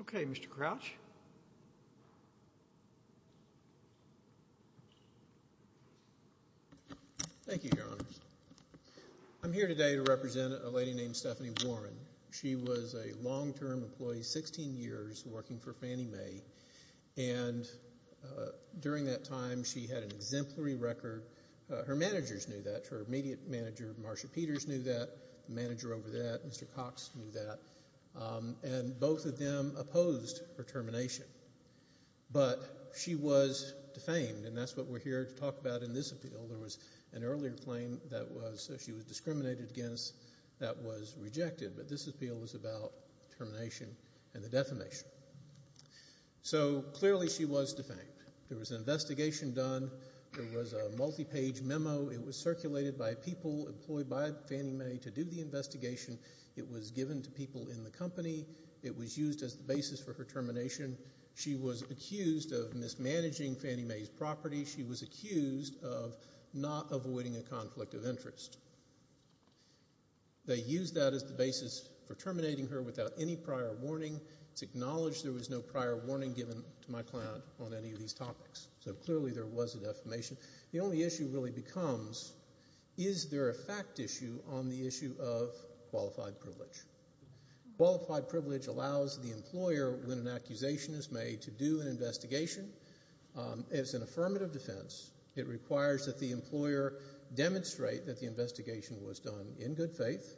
Okay, Mr. Crouch. Thank you, Your Honors. I'm here today to represent a lady named Stephanie Warren. She was a long-term employee, 16 years, working for Fannie Mae. And during that time, she had an exemplary record. Her managers knew that. Her immediate manager, Marsha Peters, knew that. The manager over there, Mr. Cox, knew that. And both of them opposed her termination. But she was defamed, and that's what we're here to talk about in this appeal. There was an earlier claim that she was discriminated against that was rejected. But this appeal was about termination and the defamation. So, clearly, she was defamed. There was an investigation done. There was a multi-page memo. It was circulated by people employed by Fannie Mae to do the investigation. It was given to people in the company. It was used as the basis for her termination. She was accused of mismanaging Fannie Mae's property. She was accused of not avoiding a conflict of interest. They used that as the basis for terminating her without any prior warning. It's acknowledged there was no prior warning given to my client on any of these topics. So, clearly, there was a defamation. The only issue really becomes, is there a fact issue on the issue of qualified privilege? Qualified privilege allows the employer, when an accusation is made, to do an investigation. As an affirmative defense, it requires that the employer demonstrate that the investigation was done in good faith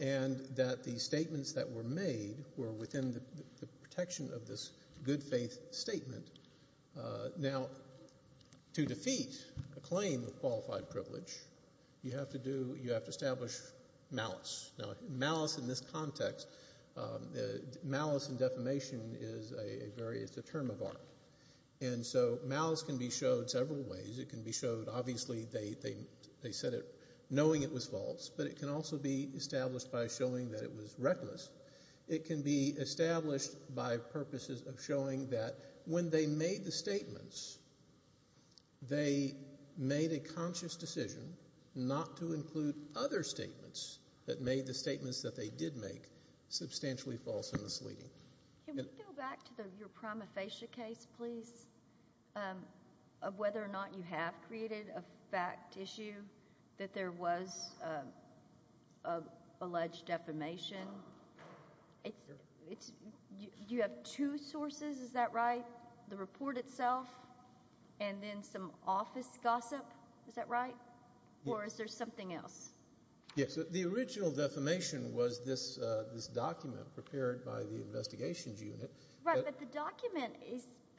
and that the statements that were made were within the protection of this good faith statement. Now, to defeat a claim of qualified privilege, you have to do, you have to establish malice. Now, malice in this context, malice and defamation is a very, it's a term of art. And so, malice can be showed several ways. It can be showed, obviously, they said it knowing it was false, but it can also be established by showing that it was reckless. It can be established by purposes of showing that when they made the statements, they made a conscious decision not to include other statements that made the statements that they did make substantially false and misleading. Can we go back to your prima facie case, please, of whether or not you have created a fact issue that there was alleged defamation? You have two sources, is that right? The report or is there something else? Yes, the original defamation was this document prepared by the investigations unit. Right, but the document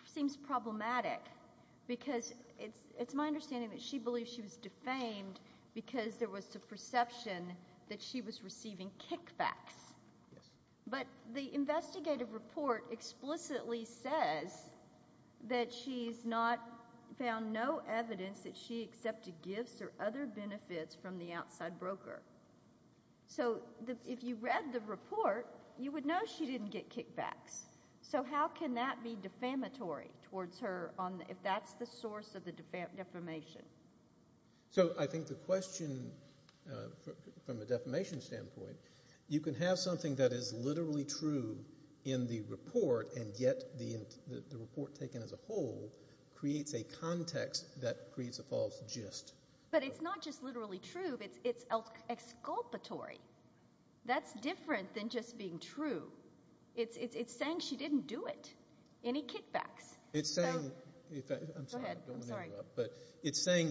seems problematic because it's my understanding that she believed she was defamed because there was the perception that she was receiving kickbacks. Yes. But the investigative report explicitly says that she's not found no evidence that she received other benefits from the outside broker. So, if you read the report, you would know she didn't get kickbacks. So, how can that be defamatory towards her if that's the source of the defamation? So I think the question from a defamation standpoint, you can have something that is literally true in the report and yet the report taken as a whole creates a context that creates a false gist. But it's not just literally true, it's exculpatory. That's different than just being true. It's saying she didn't do it. Any kickbacks? It's saying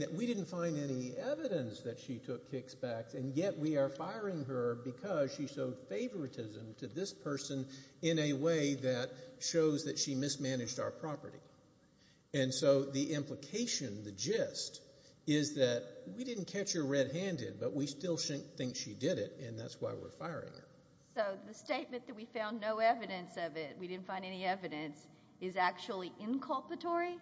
that we didn't find any evidence that she took kickbacks and yet we are firing her because she showed favoritism to this person in a way that shows that she mismanaged our property. And so, the implication, the gist, is that we didn't catch her red-handed but we still think she did it and that's why we're firing her. So, the statement that we found no evidence of it, we didn't find any evidence, is actually inculpatory?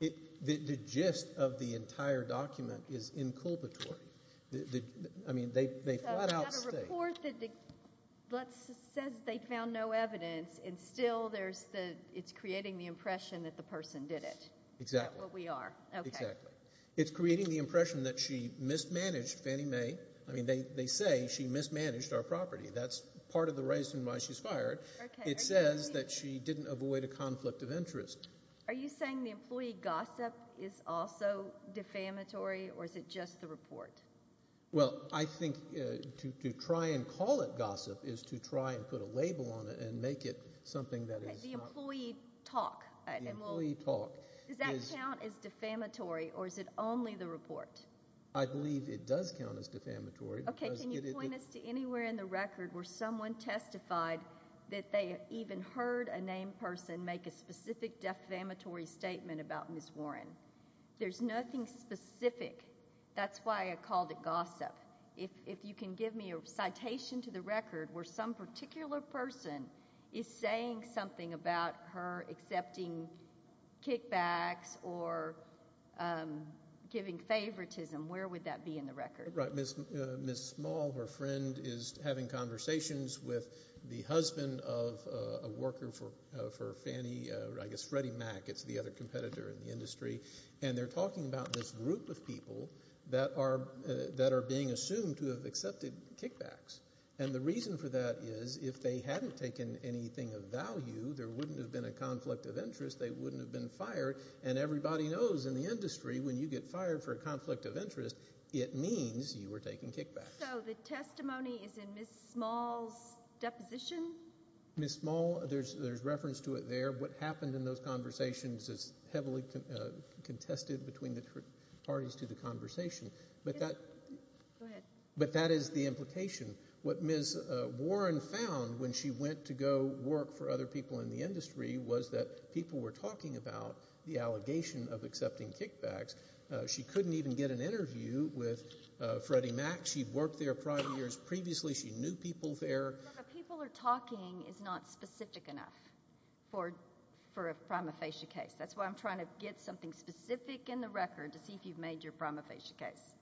The gist of the entire document is inculpatory. I mean, they flat out state. So, they have a report that says they found no evidence and still it's creating the impression that the person did it. Exactly. That's what we are. Exactly. It's creating the impression that she mismanaged Fannie Mae. I mean, they say she mismanaged our property. That's part of the reason why she's fired. It says that she didn't avoid a conflict of interest. Are you saying the employee gossip is also defamatory or is it just the report? Well, I think to try and call it gossip is to try and put a label on it and make it something that is not... The employee talk. The employee talk. Does that count as defamatory or is it only the report? I believe it does count as defamatory. OK. Can you point us to anywhere in the record where someone testified that they even heard a named person make a specific defamatory statement about Ms. Warren? There's nothing specific. That's why I called it gossip. If you can give me a citation to the record where some particular person is saying something about her accepting kickbacks or giving favoritism, where would that be in the record? Right. Ms. Small, her friend, is having conversations with the husband of a worker for Fannie, I guess Freddie Mac, it's the other competitor in the industry, and they're talking about this group of people that are being assumed to have accepted kickbacks. And the reason for that is if they hadn't taken anything of value, there wouldn't have been a conflict of interest, they wouldn't have been fired. And everybody knows in the industry when you get fired for a conflict of interest, it means you were taking kickbacks. So the testimony is in Ms. Small's deposition? Ms. Small, there's reference to it there. What happened in those conversations is heavily contested between the parties to the conversation. But that is the implication. What Ms. Warren found when she went to go work for other people in the industry was that people were talking about the allegation of accepting kickbacks. She couldn't even get an interview with Freddie Mac. She'd worked there prior years previously. She knew people there. What people are talking is not specific enough for a prima facie case. That's why I'm trying to get something specific in the record to see if you've made your prima facie case.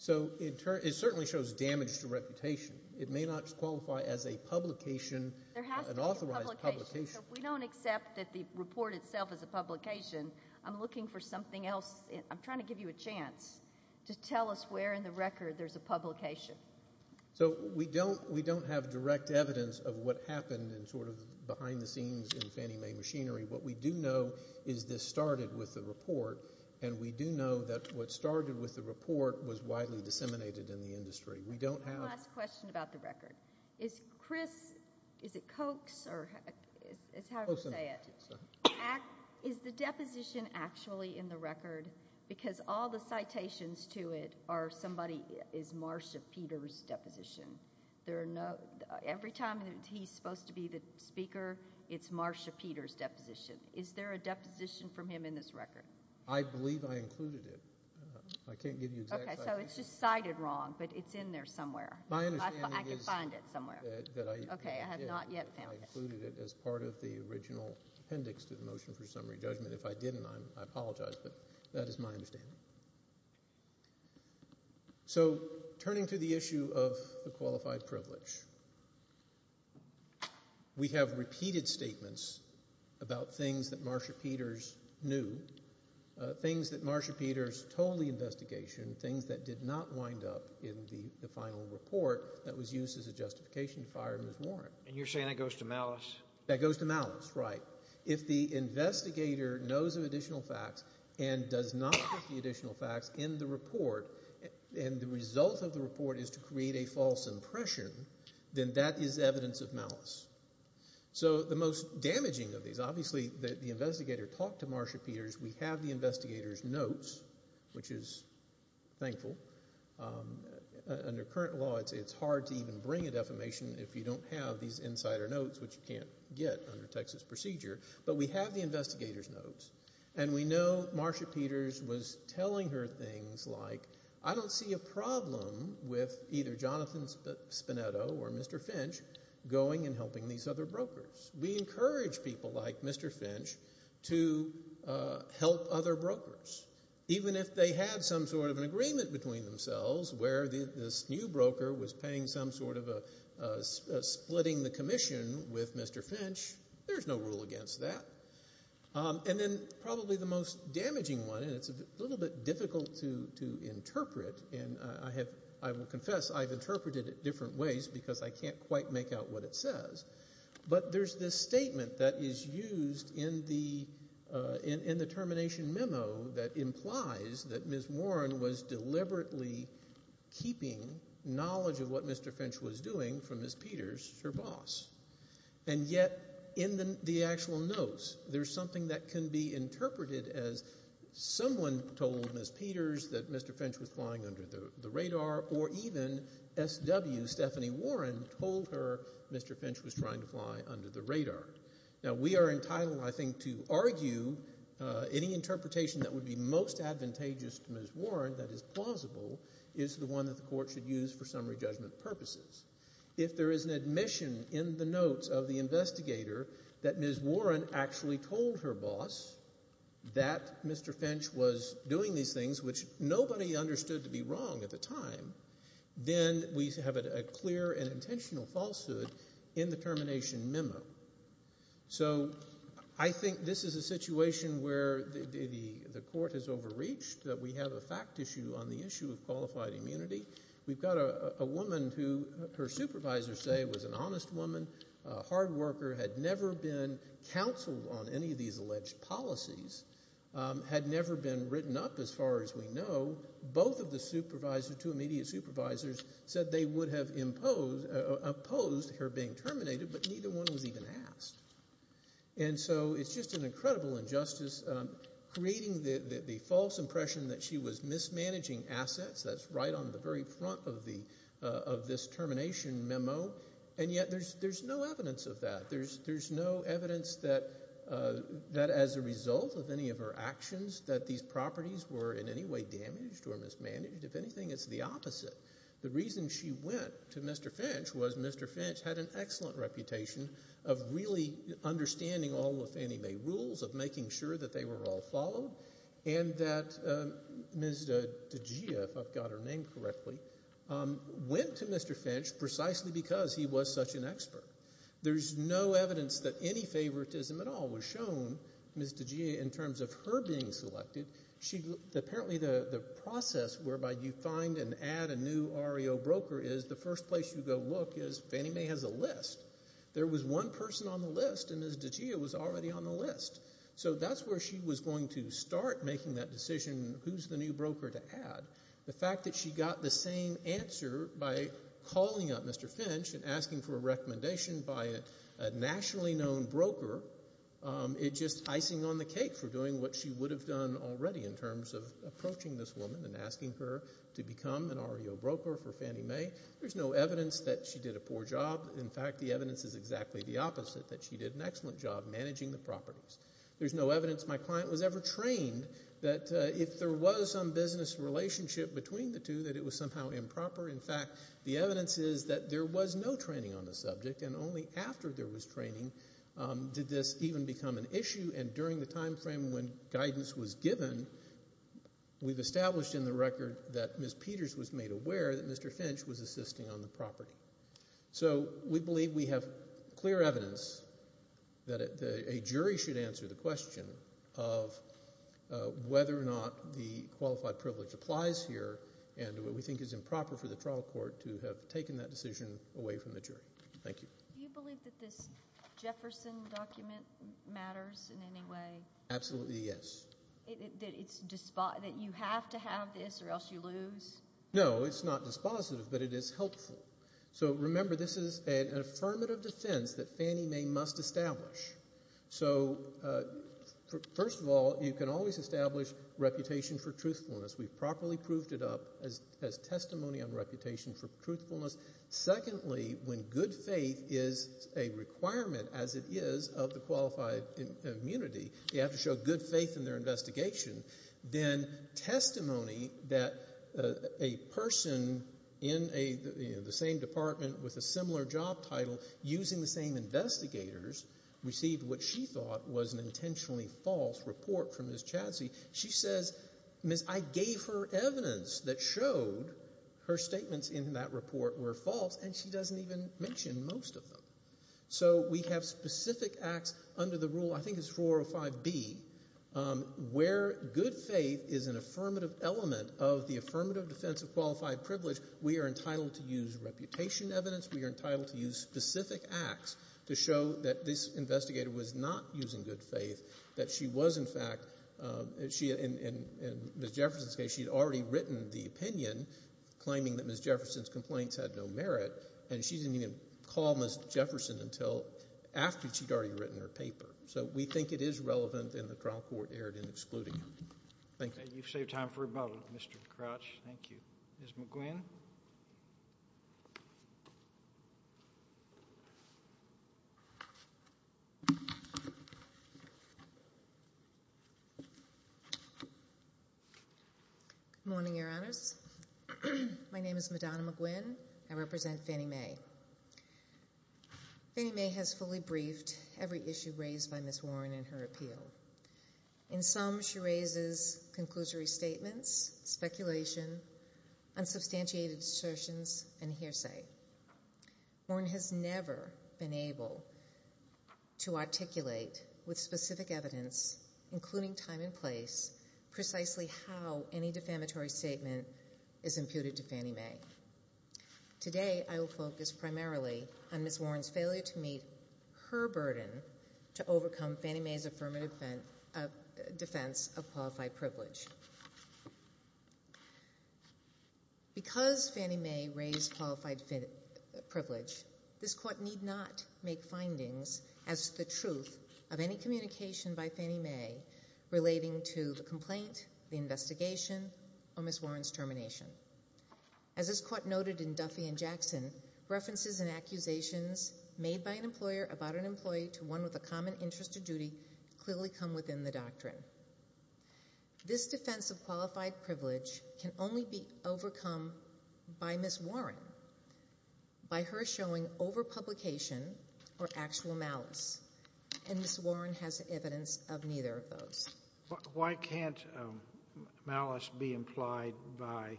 So it certainly shows damage to reputation. It may not qualify as a publication, an authorized publication. There has to be a publication. So if we don't accept that the report itself is a publication, I'm looking for something else. I'm trying to give you a chance to tell us where in the record there's a publication. So we don't have direct evidence of what happened in sort of behind the scenes in Fannie Mae machinery. What we do know is this started with the report. And we do know that what started with the report was widely disseminated in the industry. We don't have... One last question about the record. Is Chris, is it Coke's or however you say it, is the deposition actually in the record because all the citations to it are somebody is Marsh of Peter's deposition. Every time he's supposed to be the speaker, it's Marsh of Peter's deposition. Is there a deposition from him in this record? I believe I included it. I can't give you exact... Okay, so it's just cited wrong, but it's in there somewhere. My understanding is... I can find it somewhere. That I... Okay, I have not yet found it. I included it as part of the original appendix to the motion for summary judgment. If I didn't, I apologize, but that is my understanding. So turning to the issue of the qualified privilege, we have repeated statements about things that Marsh of Peter's knew, things that Marsh of Peter's told the investigation, things that did not wind up in the final report that was used as a justification to fire him as warrant. And you're saying that goes to malice? That goes to malice, right. If the investigator knows of additional facts and does not include the additional facts in the report, and the result of the report is to create a false impression, then that is evidence of malice. So the most damaging of these, obviously the investigator talked to Marsh of Peter's. We have the investigator's notes, which is thankful. Under current law, it's hard to even bring a defamation if you don't have these insider notes, which you can't get under Texas procedure. But we have the investigator's notes, and we know Marsh of Peter's was telling her things like, I don't see a problem with either Jonathan Spinetto or Mr. Finch going and helping these other brokers. We encourage people like Mr. Finch to help other brokers. Even if they had some sort of an agreement between themselves where this new broker was And then probably the most damaging one, and it's a little bit difficult to interpret, and I have, I will confess I've interpreted it different ways because I can't quite make out what it says, but there's this statement that is used in the termination memo that implies that Ms. Warren was deliberately keeping knowledge of what Mr. Finch was doing from Ms. Peter's, her boss. And yet in the actual notes, there's something that can be interpreted as someone told Ms. Peter's that Mr. Finch was flying under the radar, or even SW, Stephanie Warren, told her Mr. Finch was trying to fly under the radar. Now, we are entitled, I think, to argue any interpretation that would be most advantageous to Ms. Warren that is plausible is the one that the Court should use for summary judgment purposes. If there is an admission in the notes of the investigator that Ms. Warren actually told her boss that Mr. Finch was doing these things, which nobody understood to be wrong at the time, then we have a clear and intentional falsehood in the termination memo. So I think this is a situation where the Court has overreached, that we have a fact issue on the issue of qualified immunity. We've got a woman who her supervisors say was an honest woman, a hard worker, had never been counseled on any of these alleged policies, had never been written up as far as we know. Both of the supervisors, two immediate supervisors, said they would have imposed, opposed her being terminated, but neither one was even asked. And so it's just an incredible injustice, creating the false impression that she was mismanaging assets, that's right on the very front of this termination memo, and yet there's no evidence of that. There's no evidence that as a result of any of her actions that these properties were in any way damaged or mismanaged. If anything, it's the opposite. The reason she went to Mr. Finch was Mr. Finch had an excellent reputation of really understanding all of Fannie Mae rules, of making sure that they were all followed, and that Ms. DiGia, if I've got her name correctly, went to Mr. Finch precisely because he was such an expert. There's no evidence that any favoritism at all was shown, Ms. DiGia, in terms of her being selected. Apparently the process whereby you find and add a new REO broker is the first place you go look is Fannie Mae has a list. There was one person on the list, and Ms. DiGia was already on the list. So that's where she was going to start making that decision who's the new broker to add. The fact that she got the same answer by calling up Mr. Finch and asking for a recommendation by a nationally known broker is just icing on the cake for doing what she would have done already in terms of approaching this woman and asking her to become an REO broker for Fannie Mae. There's no evidence that she did a poor job. In fact, the evidence is exactly the opposite, that she did an excellent job managing the business. There's no evidence my client was ever trained that if there was some business relationship between the two that it was somehow improper. In fact, the evidence is that there was no training on the subject, and only after there was training did this even become an issue. And during the time frame when guidance was given, we've established in the record that Ms. Peters was made aware that Mr. Finch was assisting on the property. So we believe we have clear evidence that a jury should answer the question of whether or not the qualified privilege applies here and what we think is improper for the trial court to have taken that decision away from the jury. Thank you. Do you believe that this Jefferson document matters in any way? Absolutely, yes. That you have to have this or else you lose? No, it's not dispositive, but it is helpful. So remember, this is an affirmative defense that Fannie Mae must establish. So first of all, you can always establish reputation for truthfulness. We've properly proved it up as testimony on reputation for truthfulness. Secondly, when good faith is a requirement, as it is of the qualified immunity, you have to show good faith in their investigation. Then testimony that a person in the same department with a similar job title using the same investigators received what she thought was an intentionally false report from Ms. Chadsey, she says, Ms., I gave her evidence that showed her statements in that report were false, and she doesn't even mention most of them. So we have specific acts under the rule, I think it's 405B, where good faith is an affirmative element of the affirmative defense of qualified privilege, we are entitled to use reputation evidence. We are entitled to use specific acts to show that this investigator was not using good faith, that she was, in fact, in Ms. Jefferson's case, she had already written the opinion claiming that Ms. Jefferson's complaints had no merit, and she didn't even call Ms. Jefferson until after she'd already written her paper. So we think it is relevant, and the trial court erred in excluding her. Thank you. You've saved time for rebuttal, Mr. Crouch. Thank you. Ms. McGuinn. Good morning, Your Honors. My name is Madonna McGuinn. I represent Fannie Mae. Fannie Mae has fully briefed every issue raised by Ms. Warren in her appeal. In some, she raises conclusory statements, speculation, unsubstantiated assertions, and hearsay. Warren has never been able to articulate with specific evidence, including time and place, precisely how any defamatory statement is imputed to Fannie Mae. Today, I will focus primarily on Ms. Warren's failure to meet her burden to overcome Fannie Mae's defense of qualified privilege. Because Fannie Mae raised qualified privilege, this court need not make findings as to the truth of any communication by Fannie Mae relating to the complaint, the investigation, or Ms. Warren's termination. As this court noted in Duffy and Jackson, references and accusations made by an employer about an employee to one with a common interest or duty clearly come within the doctrine. This defense of qualified privilege can only be overcome by Ms. Warren, by her showing overpublication or actual malice, and Ms. Warren has evidence of neither of those. Why can't malice be implied by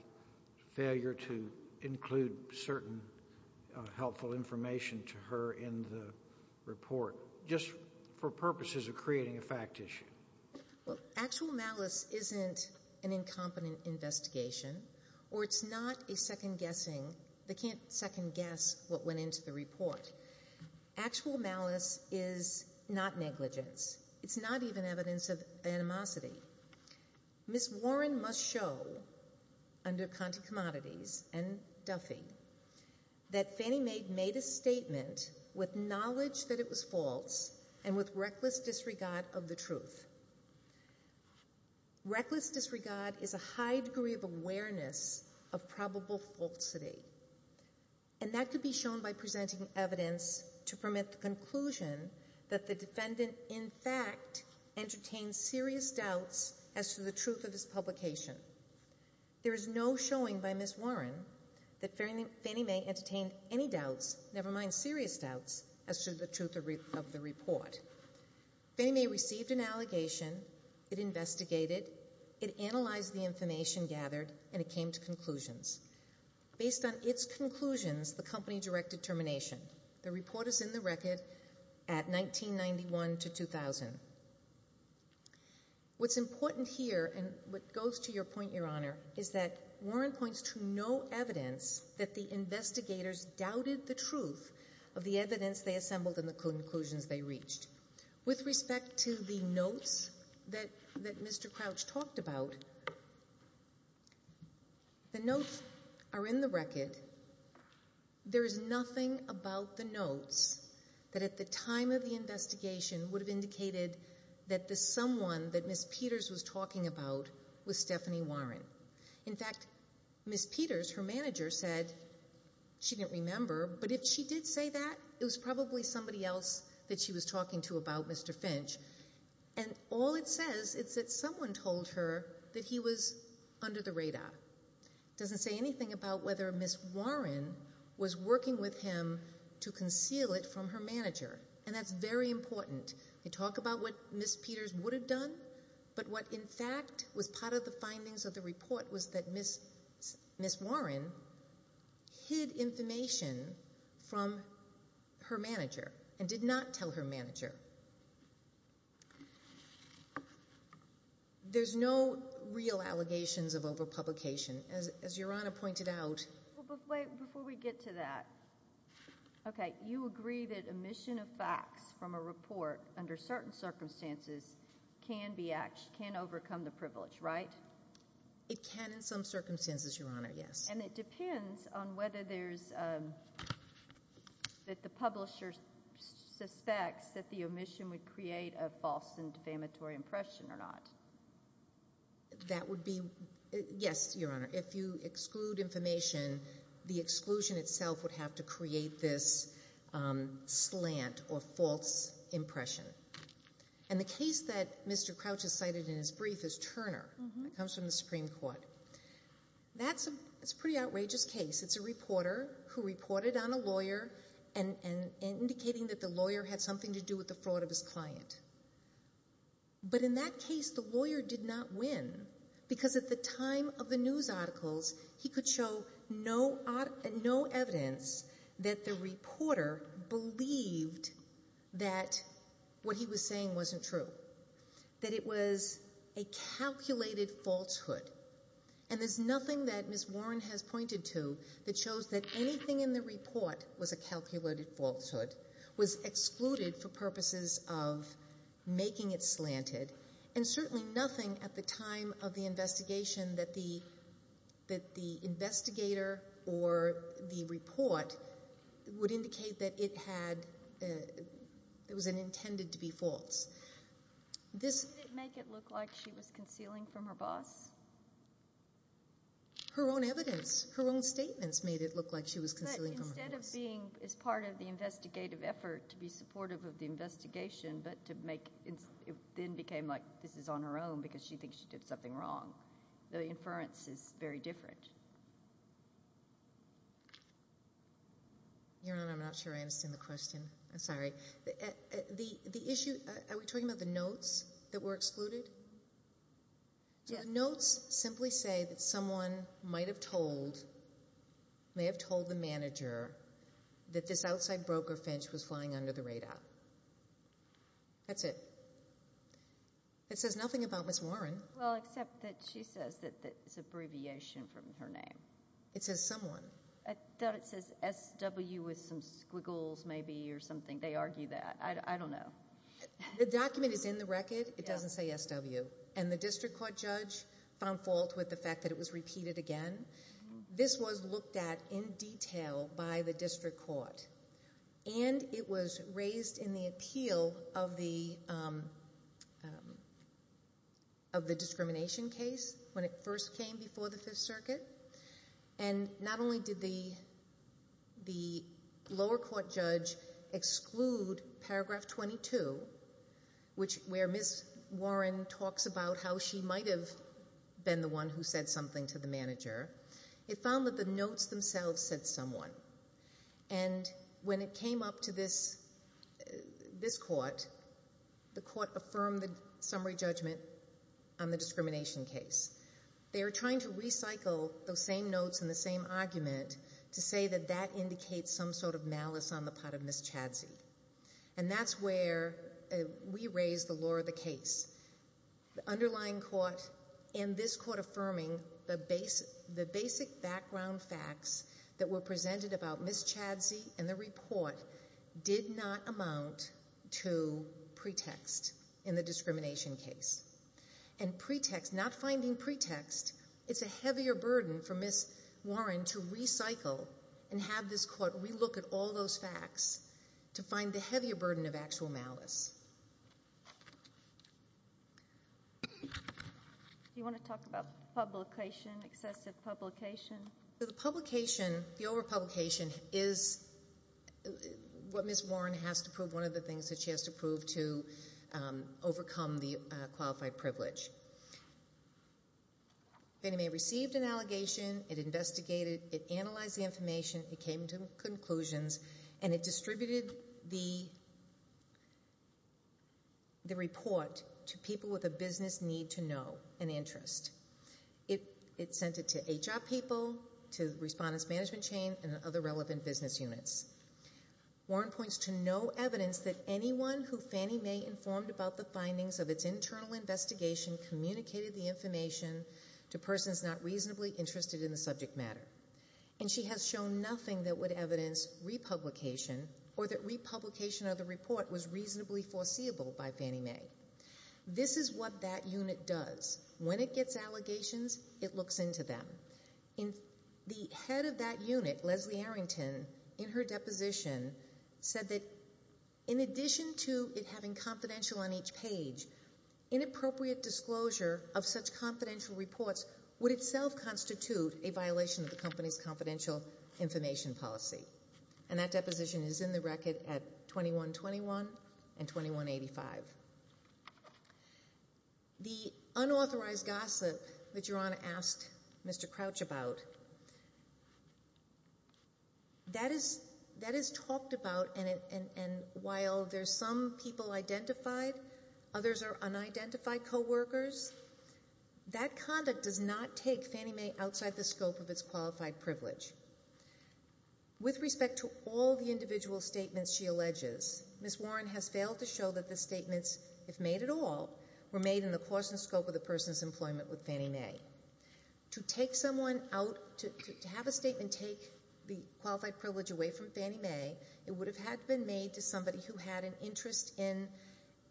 failure to include certain helpful information to her in the report, just for purposes of creating a fact issue? Well, actual malice isn't an incompetent investigation, or it's not a second-guessing they can't second-guess what went into the report. Actual malice is not negligence. It's not even evidence of animosity. Ms. Warren must show, under Conte Commodities and Duffy, that Fannie Mae made a statement with knowledge that it was false and with reckless disregard of the truth. Reckless disregard is a high degree of awareness of probable falsity, and that could be shown by presenting evidence to permit the conclusion that the defendant, in fact, entertained serious doubts as to the truth of his publication. There is no showing by Ms. Warren that Fannie Mae entertained any doubts, never mind serious doubts, as to the truth of the report. Fannie Mae received an allegation, it investigated, it analyzed the information gathered, and it came to conclusions. Based on its conclusions, the company directed termination. The report is in the record at 1991 to 2000. What's important here, and what goes to your point, Your Honor, is that Warren points to no evidence that the investigators doubted the truth of the evidence they assembled and the conclusions they reached. With respect to the notes that Mr. Crouch talked about, the notes are in the record. There is nothing about the notes that at the time of the investigation would have indicated that the someone that Ms. Peters was talking about was Stephanie Warren. In fact, Ms. Peters, her manager, said she didn't remember, but if she did say that, it was probably somebody else that she was talking to about Mr. Finch, and all it says is that someone told her that he was under the radar. It doesn't say anything about whether Ms. Warren was working with him to conceal it from her manager, and that's very important. They talk about what Ms. Peters would have done, but what in fact was part of the findings of the report was that Ms. Warren hid information from her manager and did not tell her manager. There's no real allegations of overpublication, as Your Honor pointed out. Before we get to that, okay, you agree that omission of facts from a report under certain circumstances can overcome the privilege, right? It can in some circumstances, Your Honor, yes. And it depends on whether there's, that the publisher suspects that the omission would create a false and defamatory impression or not. That would be, yes, Your Honor. If you exclude information, the exclusion itself would have to create this slant or false impression. And the case that Mr. Crouch has cited in his brief is Turner. It comes from the Supreme Court. That's a pretty outrageous case. It's a reporter who reported on a lawyer and indicating that the lawyer had something to do with the fraud of his client. But in that case, the lawyer did not win because at the time of the news articles, he could show no evidence that the reporter believed that what he was saying wasn't true, that it was a calculated falsehood. And there's nothing that Ms. Warren has pointed to that shows that anything in the report was a calculated falsehood, was excluded for purposes of making it slanted, and certainly nothing at the time of the investigation that the investigator or the report would indicate that it was intended to be false. Did it make it look like she was concealing from her boss? Her own evidence, her own statements made it look like she was concealing from her boss. Instead of being as part of the investigative effort to be supportive of the investigation, but to make it then became like this is on her own because she thinks she did something wrong. The inference is very different. Your Honor, I'm not sure I understand the question. I'm sorry. The issue, are we talking about the notes that were excluded? So the notes simply say that someone might have told the manager that this outside broker, Finch, was flying under the radar. That's it. It says nothing about Ms. Warren. Well, except that she says that it's abbreviation from her name. It says someone. I thought it says SW with some squiggles maybe or something. They argue that. I don't know. The document is in the record. It doesn't say SW, and the district court judge found fault with the fact that it was repeated again. This was looked at in detail by the district court, and it was raised in the appeal of the discrimination case when it first came before the Fifth Circuit. And not only did the lower court judge exclude Paragraph 22, where Ms. Warren talks about how she might have been the one who said something to the manager, it found that the notes themselves said someone. And when it came up to this court, the court affirmed the summary judgment on the discrimination case. They are trying to recycle those same notes and the same argument to say that that indicates some sort of malice on the part of Ms. Chadzi. And that's where we raise the law of the case. The underlying court in this court affirming the basic background facts that were presented about Ms. Chadzi in the report did not amount to pretext in the discrimination case. And pretext, not finding pretext, it's a heavier burden for Ms. Warren to recycle and have this court relook at all those facts to find the heavier burden of actual malice. Do you want to talk about publication, excessive publication? The publication, the overpublication is what Ms. Warren has to prove, one of the things that she has to prove to overcome the qualified privilege. Fannie Mae received an allegation, it investigated, it analyzed the information, it came to conclusions, and it distributed the report to people with a business need to know, an interest. It sent it to HR people, to respondents management chain, and other relevant business units. Warren points to no evidence that anyone who Fannie Mae informed about the findings of its internal investigation communicated the information to persons not reasonably interested in the subject matter. And she has shown nothing that would evidence republication or that republication of the report was reasonably foreseeable by Fannie Mae. This is what that unit does. When it gets allegations, it looks into them. The head of that unit, Leslie Arrington, in her deposition, said that in addition to it having confidential on each page, inappropriate disclosure of such confidential reports would itself constitute a violation of the company's confidential information policy. And that deposition is in the record at 2121 and 2185. The unauthorized gossip that Your Honor asked Mr. Crouch about, that is talked about and while there's some people identified, others are unidentified coworkers, that conduct does not take Fannie Mae outside the scope of its qualified privilege. With respect to all the individual statements she alleges, Ms. Warren has failed to show that the statements, if made at all, were made in the course and scope of the person's employment with Fannie Mae. To take someone out, to have a statement take the qualified privilege away from Fannie Mae, it would have had to been made to somebody who had an interest in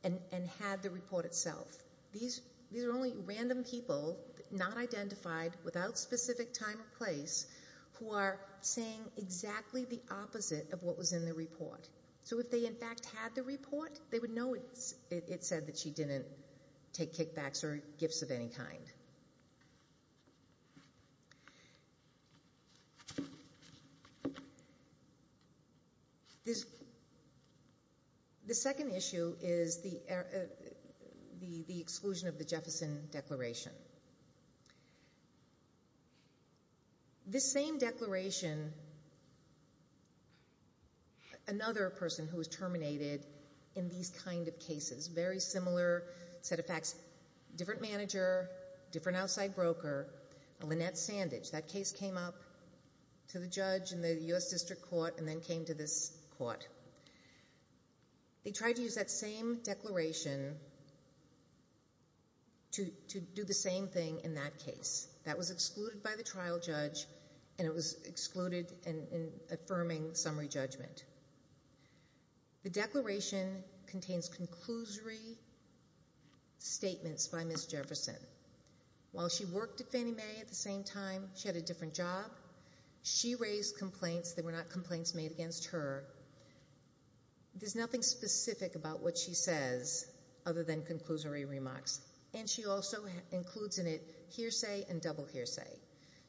and had the report itself. These are only random people, not identified, without specific time or place, who are saying exactly the opposite of what was in the report. So if they, in fact, had the report, they would know it said that she didn't take kickbacks or gifts of any kind. The second issue is the exclusion of the Jefferson Declaration. This same declaration, another person who was terminated in these kind of cases, very similar set of facts, different manager, different outside broker, Lynette Sandage. That case came up to the judge in the U.S. District Court and then came to this court. They tried to use that same declaration to do the same thing in that case. That was excluded by the trial judge, and it was excluded in affirming summary judgment. The declaration contains conclusory statements by Ms. Jefferson. While she worked at Fannie Mae at the same time, she had a different job, she raised complaints that were not complaints made against her. There's nothing specific about what she says other than conclusory remarks, and she also includes in it hearsay and double hearsay.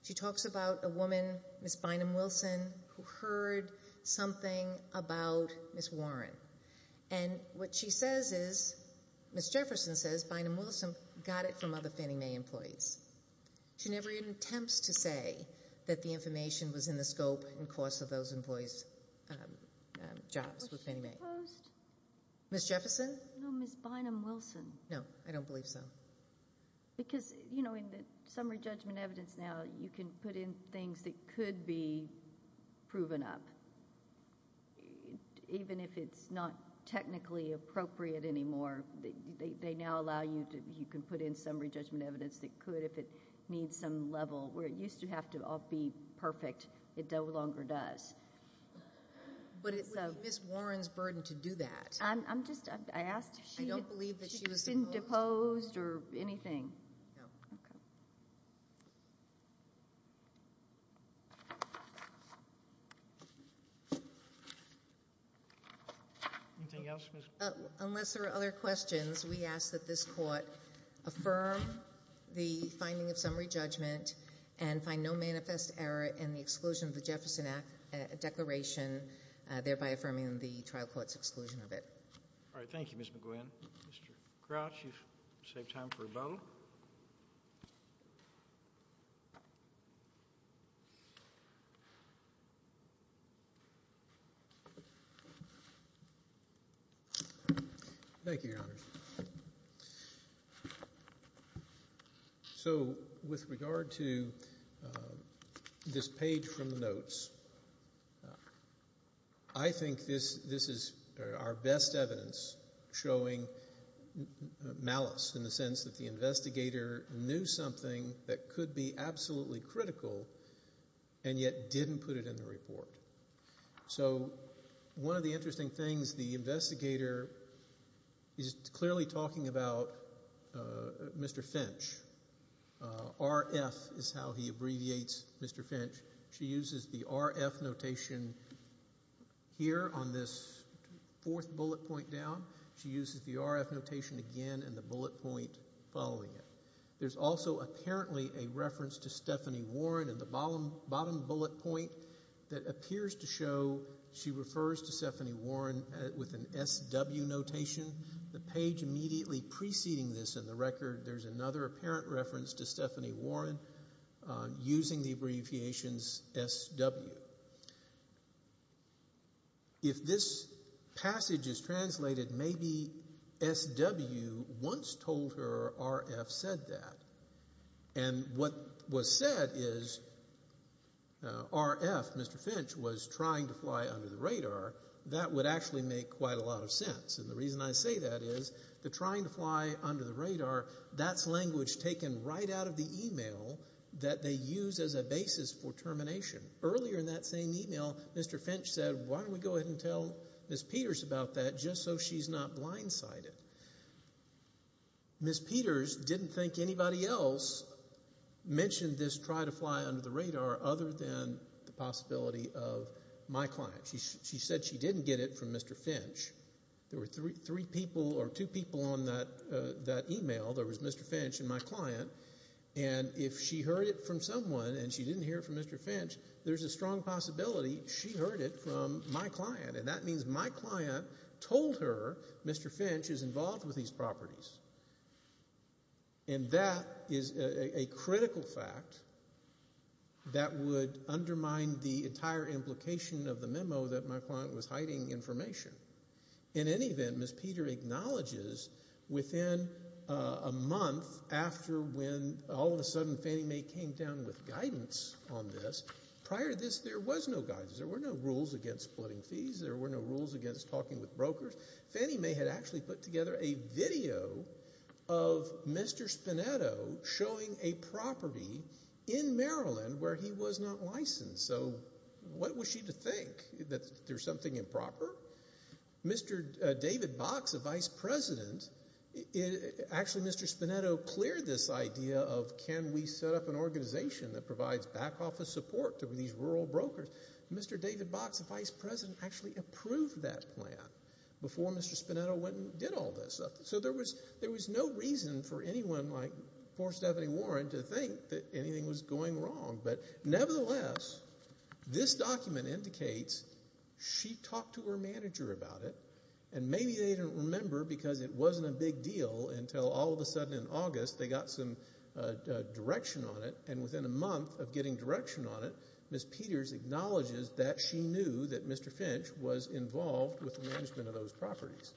She talks about a woman, Ms. Bynum-Wilson, who heard something about Ms. Warren, and what she says is, Ms. Jefferson says, Bynum-Wilson got it from other Fannie Mae employees. She never even attempts to say that the information was in the scope and cost of those employees' jobs with Fannie Mae. Was she opposed? Ms. Jefferson? No, Ms. Bynum-Wilson. No, I don't believe so. Because, you know, in the summary judgment evidence now, you can put in things that could be proven up. Even if it's not technically appropriate anymore, they now allow you to put in summary judgment evidence that could if it needs some level. Where it used to have to all be perfect, it no longer does. But it's Ms. Warren's burden to do that. I'm just, I asked if she had been deposed or anything. No. Okay. Anything else, Ms. McGowan? Unless there are other questions, we ask that this Court affirm the finding of summary judgment and find no manifest error in the exclusion of the Jefferson Act declaration, thereby affirming the trial court's exclusion of it. All right. Thank you, Ms. McGowan. Mr. Crouch, you've saved time for rebuttal. Thank you, Your Honor. So with regard to this page from the notes, I think this is our best evidence showing malice, in the sense that the investigator knew something that could be absolutely critical and yet didn't put it in the report. So one of the interesting things, the investigator is clearly talking about Mr. Finch. RF is how he abbreviates Mr. Finch. She uses the RF notation here on this fourth bullet point down. She uses the RF notation again in the bullet point following it. There's also apparently a reference to Stephanie Warren in the bottom bullet point that appears to show she refers to Stephanie Warren with an SW notation. The page immediately preceding this in the record, there's another apparent reference to Stephanie Warren using the abbreviations SW. If this passage is translated, maybe SW once told her RF said that. And what was said is RF, Mr. Finch, was trying to fly under the radar. That would actually make quite a lot of sense. And the reason I say that is the trying to fly under the radar, that's language taken right out of the email that they use as a basis for termination. Earlier in that same email, Mr. Finch said, why don't we go ahead and tell Ms. Peters about that just so she's not blindsided. Ms. Peters didn't think anybody else mentioned this try to fly under the radar other than the possibility of my client. She said she didn't get it from Mr. Finch. There were three people or two people on that email. There was Mr. Finch and my client. And if she heard it from someone and she didn't hear it from Mr. Finch, there's a strong possibility she heard it from my client. And that means my client told her Mr. Finch is involved with these properties. And that is a critical fact that would undermine the entire implication of the memo that my client was hiding information. In any event, Ms. Peters acknowledges within a month after when all of a sudden Fannie Mae came down with guidance on this, prior to this there was no guidance. There were no rules against splitting fees. There were no rules against talking with brokers. Fannie Mae had actually put together a video of Mr. Spinetto showing a property in Maryland where he was not licensed. So what was she to think? That there's something improper? Mr. David Box, the vice president, actually Mr. Spinetto cleared this idea of can we set up an organization that provides back office support to these rural brokers? Mr. David Box, the vice president, actually approved that plan before Mr. Spinetto went and did all this. So there was no reason for anyone like poor Stephanie Warren to think that anything was going wrong. But nevertheless, this document indicates she talked to her manager about it. And maybe they didn't remember because it wasn't a big deal until all of a sudden in August they got some direction on it. And within a month of getting direction on it, Ms. Peters acknowledges that she knew that Mr. Finch was involved with the management of those properties.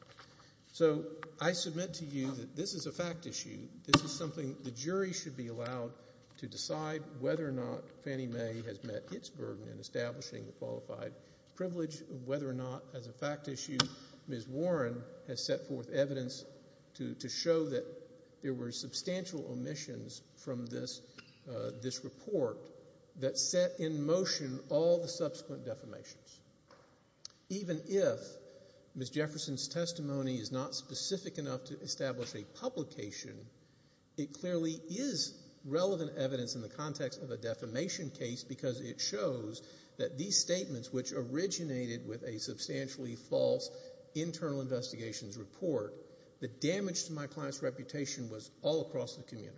So I submit to you that this is a fact issue. This is something the jury should be allowed to decide whether or not Fannie Mae has met its burden in establishing the qualified privilege, whether or not as a fact issue Ms. Warren has set forth evidence to show that there were substantial omissions from this report that set in motion all the subsequent defamations. Even if Ms. Jefferson's testimony is not specific enough to establish a publication, it clearly is relevant evidence in the context of a defamation case because it shows that these statements which originated with a substantially false internal investigations report, the damage to my client's reputation was all across the community.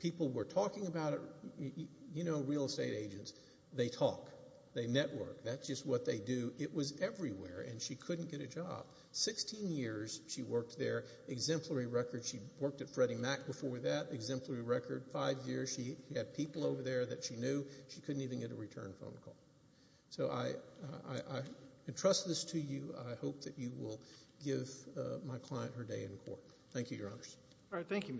People were talking about it. You know real estate agents. They talk. They network. That's just what they do. It was everywhere, and she couldn't get a job. Sixteen years she worked there, exemplary record. She worked at Freddie Mac before that, exemplary record. Five years she had people over there that she knew. She couldn't even get a return phone call. So I entrust this to you. I hope that you will give my client her day in court. Roberts.